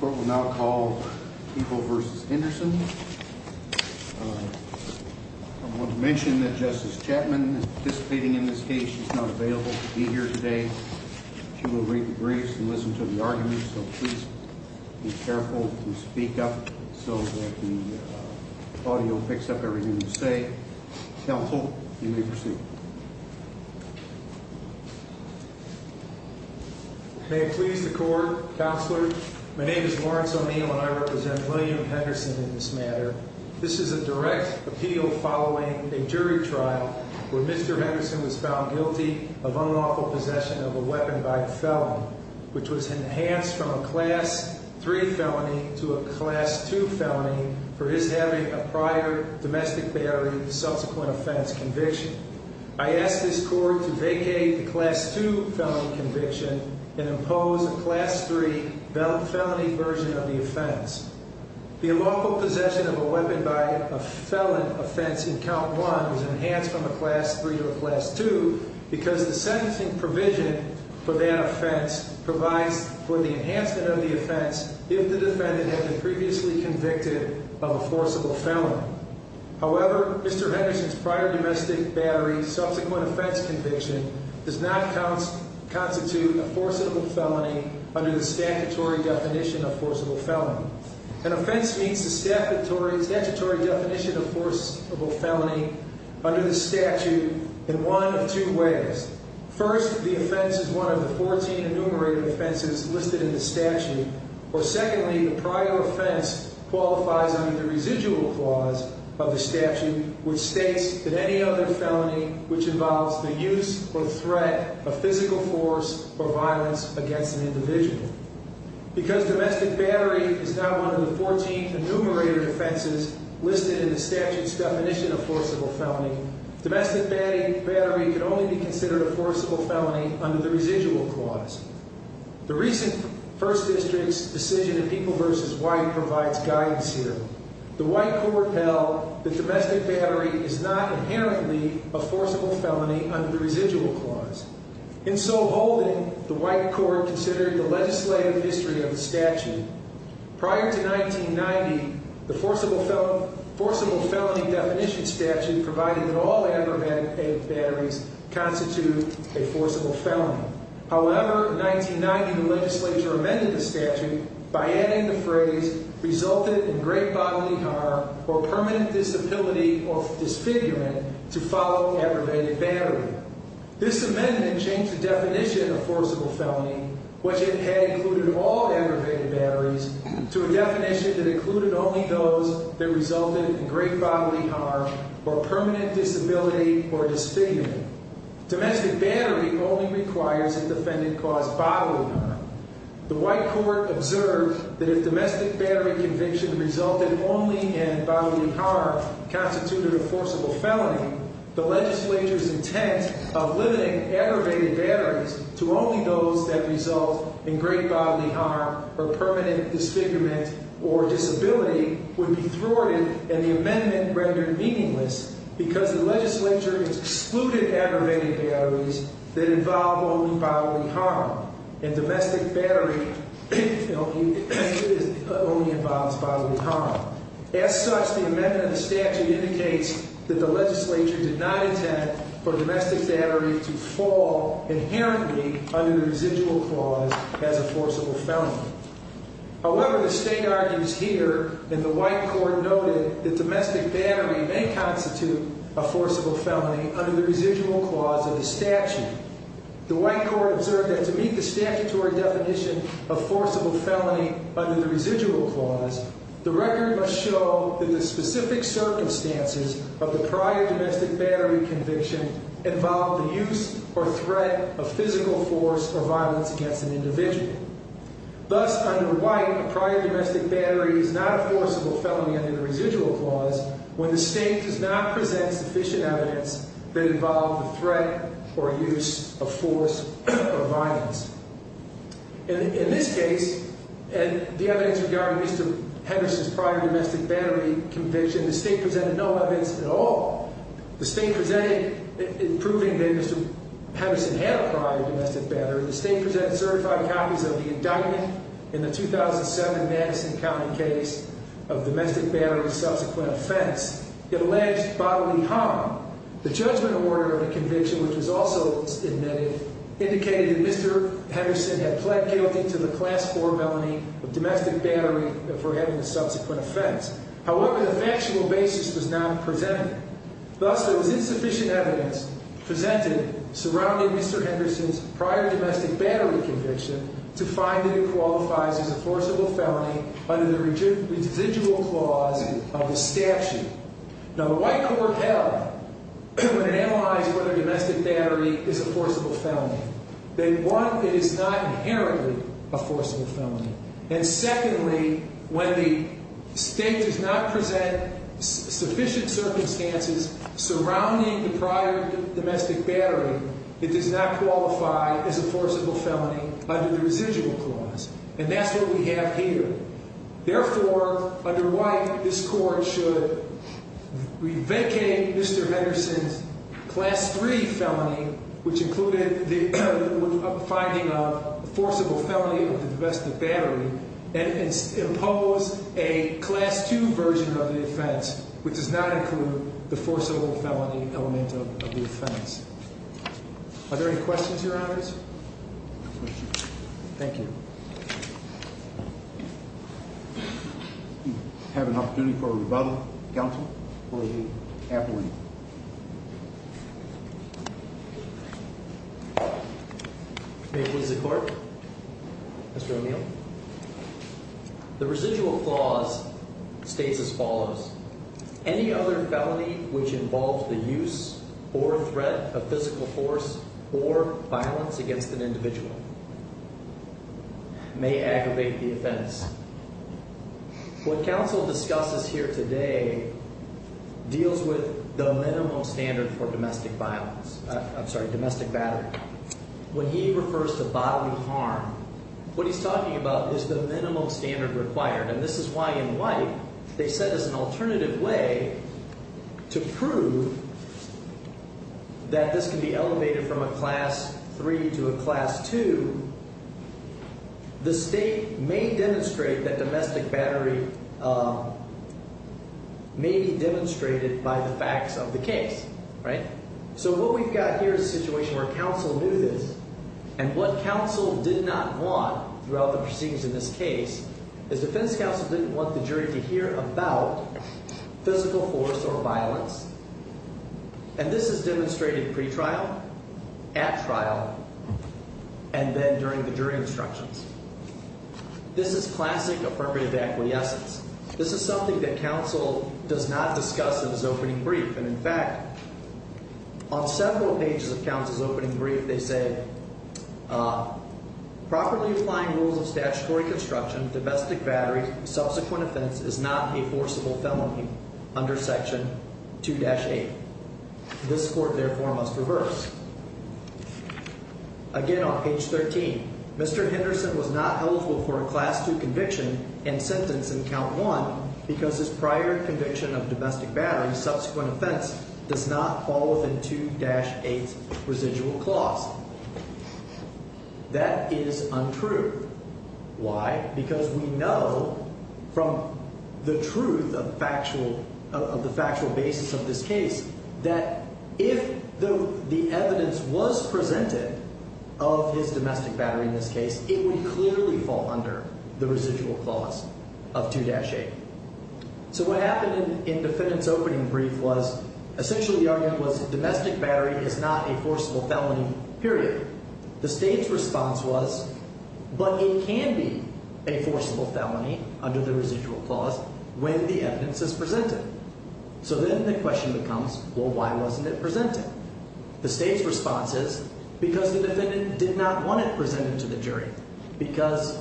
Court will now call Heeple v. Henderson. I want to mention that Justice Chapman is participating in this case. She's not available to be here today. She will read the briefs and listen to the arguments, so please be careful when you speak up so that the audio picks up everything you say. Counsel, you may proceed. May it please the Court, Counselor. My name is Lawrence O'Neill and I represent William Henderson in this matter. This is a direct appeal following a jury trial where Mr. Henderson was found guilty of unlawful possession of a weapon by the felon, which was enhanced from a Class III felony to a Class II felony for his having a prior domestic battery of the subsequent offense conviction. I ask this Court to vacate the Class II felony conviction and impose a Class III felony version of the offense. The unlawful possession of a weapon by a felon offense in Count 1 was enhanced from a Class III to a Class II because the sentencing provision for that offense provides for the enhancement of the offense if the defendant had been previously convicted of a forcible felony. However, Mr. Henderson's prior domestic battery, subsequent offense conviction, does not constitute a forcible felony under the statutory definition of forcible felony. An offense meets the statutory definition of forcible felony under the statute in one of two ways. First, the offense is one of the 14 enumerated offenses listed in the statute, or secondly, the prior offense qualifies under the residual clause of the statute, which states that any other felony which involves the use or threat of physical force or violence against an individual. Because domestic battery is not one of the 14 enumerated offenses listed in the statute's definition of forcible felony, domestic battery could only be considered a forcible felony under the residual clause. The recent First District's decision in People v. White provides guidance here. The White Court held that domestic battery is not inherently a forcible felony under the residual clause. In so holding, the White Court considered the legislative history of the statute. Prior to 1990, the forcible felony definition statute provided that all aggravated batteries constitute a forcible felony. However, in 1990, the legislature amended the statute by adding the phrase, resulted in great bodily harm or permanent disability or disfigurement to follow aggravated battery. This amendment changed the definition of forcible felony, which it had included all aggravated batteries, to a definition that included only those that resulted in great bodily harm or permanent disability or disfigurement. Domestic battery only requires a defendant cause bodily harm. The White Court observed that if domestic battery conviction resulted only in bodily harm constituted a forcible felony, the legislature's intent of limiting aggravated batteries to only those that result in great bodily harm or permanent disfigurement or disability would be thwarted and the amendment rendered meaningless because the legislature has excluded aggravated batteries that involve only bodily harm and domestic battery only involves bodily harm. As such, the amendment of the statute indicates that the legislature did not intend for domestic battery to fall inherently under the residual clause as a forcible felony. However, the state argues here and the White Court noted that domestic battery may constitute a forcible felony under the residual clause of the statute. The White Court observed that to meet the statutory definition of forcible felony under the residual clause, the record must show that the specific circumstances of the prior domestic battery conviction involved the use or threat of physical force or violence against an individual. Thus, under White, a prior domestic battery is not a forcible felony under the residual clause when the state does not present sufficient evidence that involved the threat or use of force or violence. In this case, and the evidence regarding Mr. Henderson's prior domestic battery conviction, the state presented no evidence at all. The state presented in proving that Mr. Henderson had a prior domestic battery, the state presented certified copies of the indictment in the 2007 Madison County case of domestic battery's subsequent offense. It alleged bodily harm. The judgment order of the conviction, which was also submitted, indicated that Mr. Henderson had pled guilty to the Class IV felony of domestic battery for having a subsequent offense. However, the factual basis was not presented. Thus, there was insufficient evidence presented surrounding Mr. Henderson's prior domestic battery conviction to find that it qualifies as a forcible felony under the residual clause of the statute. Now, the White Court held, when it analyzed whether domestic battery is a forcible felony, that one, it is not inherently a forcible felony. And secondly, when the state does not present sufficient circumstances surrounding the prior domestic battery, it does not qualify as a forcible felony under the residual clause. And that's what we have here. Therefore, under White, this Court should vacate Mr. Henderson's Class III felony, which included the finding of forcible felony of the domestic battery, and impose a Class II version of the offense, which does not include the forcible felony element of the offense. Are there any questions, Your Honors? Thank you. Do we have an opportunity for a rebuttal, counsel, or an appeal? May it please the Court? Mr. O'Neill? The residual clause states as follows. Any other felony which involves the use or threat of physical force or violence against an individual may aggravate the offense. What counsel discusses here today deals with the minimum standard for domestic violence. I'm sorry, domestic battery. When he refers to bodily harm, what he's talking about is the minimum standard required. And this is why, in White, they set as an alternative way to prove that this can be elevated from a Class III to a Class II. The state may demonstrate that domestic battery may be demonstrated by the facts of the case, right? So what we've got here is a situation where counsel knew this. And what counsel did not want throughout the proceedings in this case is defense counsel didn't want the jury to hear about physical force or violence. And this is demonstrated pretrial, at trial, and then during the jury instructions. This is classic affirmative equity essence. This is something that counsel does not discuss in his opening brief. And, in fact, on several pages of counsel's opening brief, they said, properly applying rules of statutory construction, domestic battery, subsequent offense is not a forcible felony under Section 2-8. This court, therefore, must reverse. Again, on page 13, Mr. Henderson was not eligible for a Class II conviction and sentence in count one because his prior conviction of domestic battery, subsequent offense, does not fall within 2-8 residual clause. That is untrue. Why? Because we know from the truth of the factual basis of this case that if the evidence was presented of his domestic battery in this case, it would clearly fall under the residual clause of 2-8. So what happened in the defendant's opening brief was essentially the argument was domestic battery is not a forcible felony, period. The state's response was, but it can be a forcible felony under the residual clause when the evidence is presented. So then the question becomes, well, why wasn't it presented? The state's response is because the defendant did not want it presented to the jury because,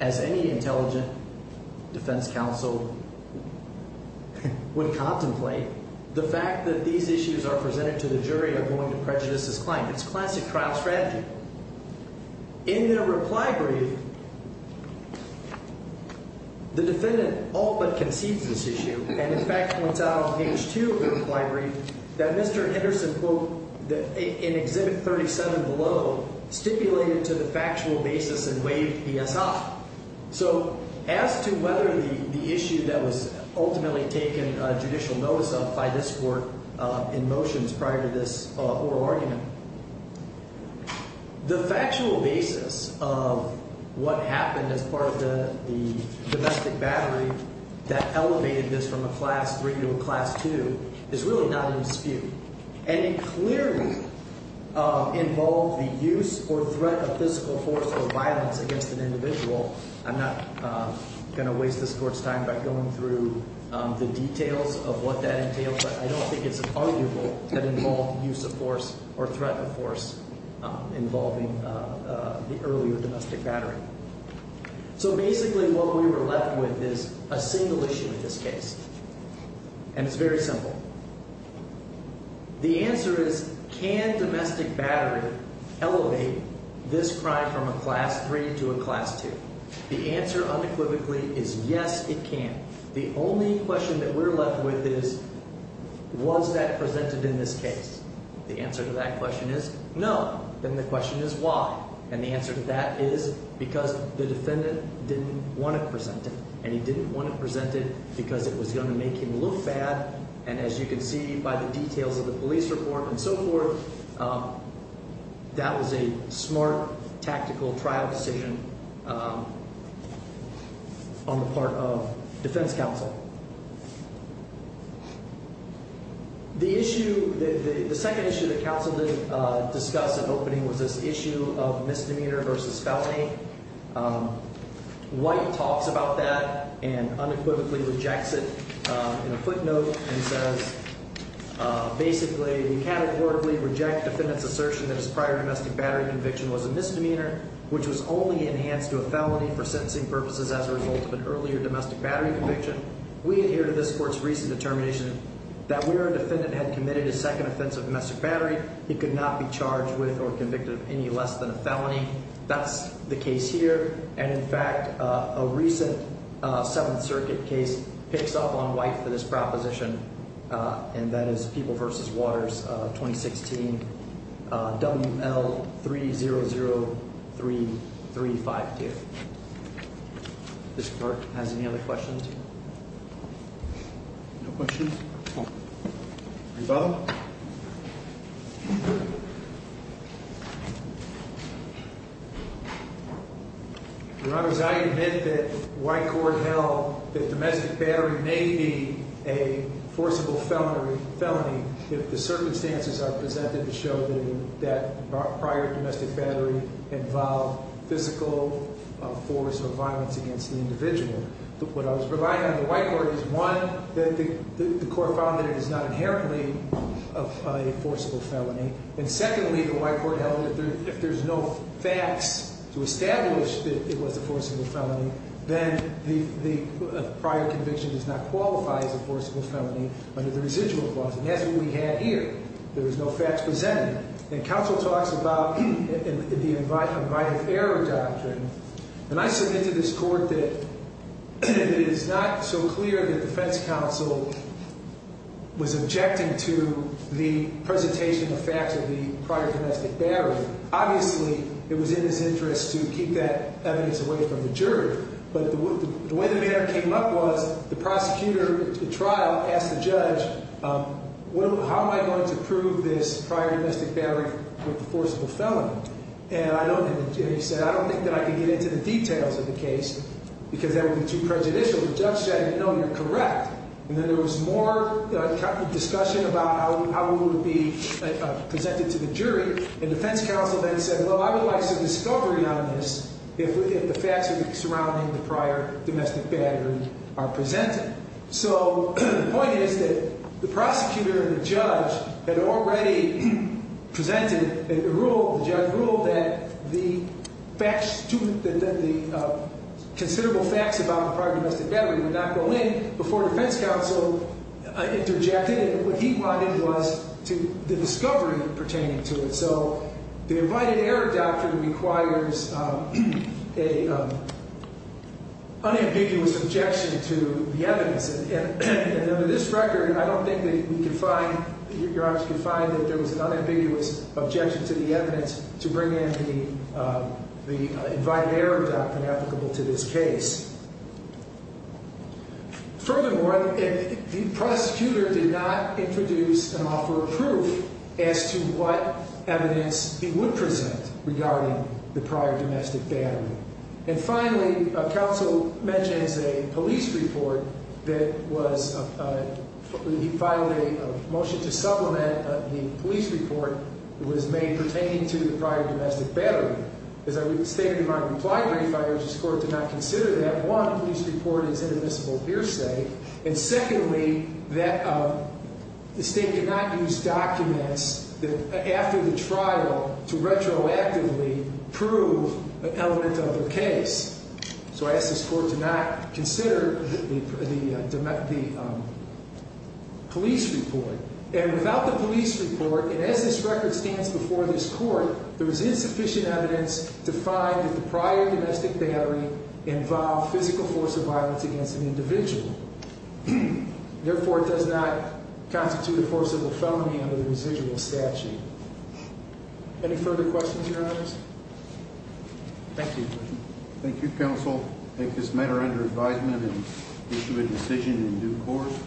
as any intelligent defense counsel would contemplate, the fact that these issues are presented to the jury are going to prejudice his claim. It's classic trial strategy. In their reply brief, the defendant all but concedes this issue and, in fact, points out on page two of the reply brief that Mr. Henderson, quote, in Exhibit 37 below, stipulated to the factual basis and waived PSI. So as to whether the issue that was ultimately taken judicial notice of by this court in motions prior to this oral argument, the factual basis of what happened as part of the domestic battery that elevated this from a Class III to a Class II is really not in dispute. And it clearly involved the use or threat of physical force or violence against an individual. I'm not going to waste this court's time by going through the details of what that entails, but I don't think it's arguable that involved use of force or threat of force involving the earlier domestic battery. So basically what we were left with is a single issue in this case, and it's very simple. The answer is, can domestic battery elevate this crime from a Class III to a Class II? The answer unequivocally is yes, it can. The only question that we're left with is, was that presented in this case? The answer to that question is no. Then the question is why? And the answer to that is because the defendant didn't want to present it. And he didn't want to present it because it was going to make him look bad. And as you can see by the details of the police report and so forth, that was a smart, tactical trial decision on the part of defense counsel. The issue, the second issue that counsel didn't discuss at opening was this issue of misdemeanor versus felony. White talks about that and unequivocally rejects it in a footnote and says, basically, we categorically reject defendant's assertion that his prior domestic battery conviction was a misdemeanor, which was only enhanced to a felony for sentencing purposes as a result of an earlier domestic battery conviction. We adhere to this court's recent determination that where a defendant had committed his second offense of domestic battery, he could not be charged with or convicted of any less than a felony. That's the case here. And, in fact, a recent Seventh Circuit case picks up on White for this proposition, and that is People v. Waters, 2016, WL3003352. Does the court have any other questions? No questions? No. Any further? Your Honor, as I admit that White Court held that domestic battery may be a forcible felony if the circumstances are presented to show that prior domestic battery involved physical force or violence against the individual. What I was providing on the White Court is, one, that the court found that it is not inherently a forcible felony. And, secondly, the White Court held that if there's no facts to establish that it was a forcible felony, then the prior conviction does not qualify as a forcible felony under the residual clause. And that's what we had here. There was no facts presented. And counsel talks about the invite-of-error doctrine. And I submitted to this court that it is not so clear that the defense counsel was objecting to the presentation of facts of the prior domestic battery. Obviously, it was in his interest to keep that evidence away from the jury. But the way the matter came up was the prosecutor at the trial asked the judge, how am I going to prove this prior domestic battery with the forcible felony? And he said, I don't think that I can get into the details of the case because that would be too prejudicial. The judge said, no, you're correct. And then there was more discussion about how it would be presented to the jury. And defense counsel then said, well, I would like some discovery on this if the facts surrounding the prior domestic battery are presented. So the point is that the prosecutor and the judge had already presented a rule, the judge ruled, that the considerable facts about the prior domestic battery would not go in before defense counsel interjected. And what he wanted was the discovery pertaining to it. So the invited error doctrine requires an unambiguous objection to the evidence. And under this record, I don't think that we can find, your Honor, we can find that there was an unambiguous objection to the evidence to bring in the invited error doctrine applicable to this case. Furthermore, the prosecutor did not introduce and offer proof as to what evidence he would present regarding the prior domestic battery. And finally, counsel mentions a police report that was, he filed a motion to supplement the police report that was made pertaining to the prior domestic battery. As I stated in my reply brief, I urge this court to not consider that one, police report is inadmissible hearsay. And secondly, that the state did not use documents after the trial to retroactively prove an element of the case. So I ask this court to not consider the police report. And without the police report, and as this record stands before this court, there is insufficient evidence to find that the prior domestic battery involved physical force of violence against an individual. Therefore, it does not constitute a forcible felony under the residual statute. Any further questions, your honors? Thank you. Thank you, counsel. I take this matter under advisement and issue a decision in due course.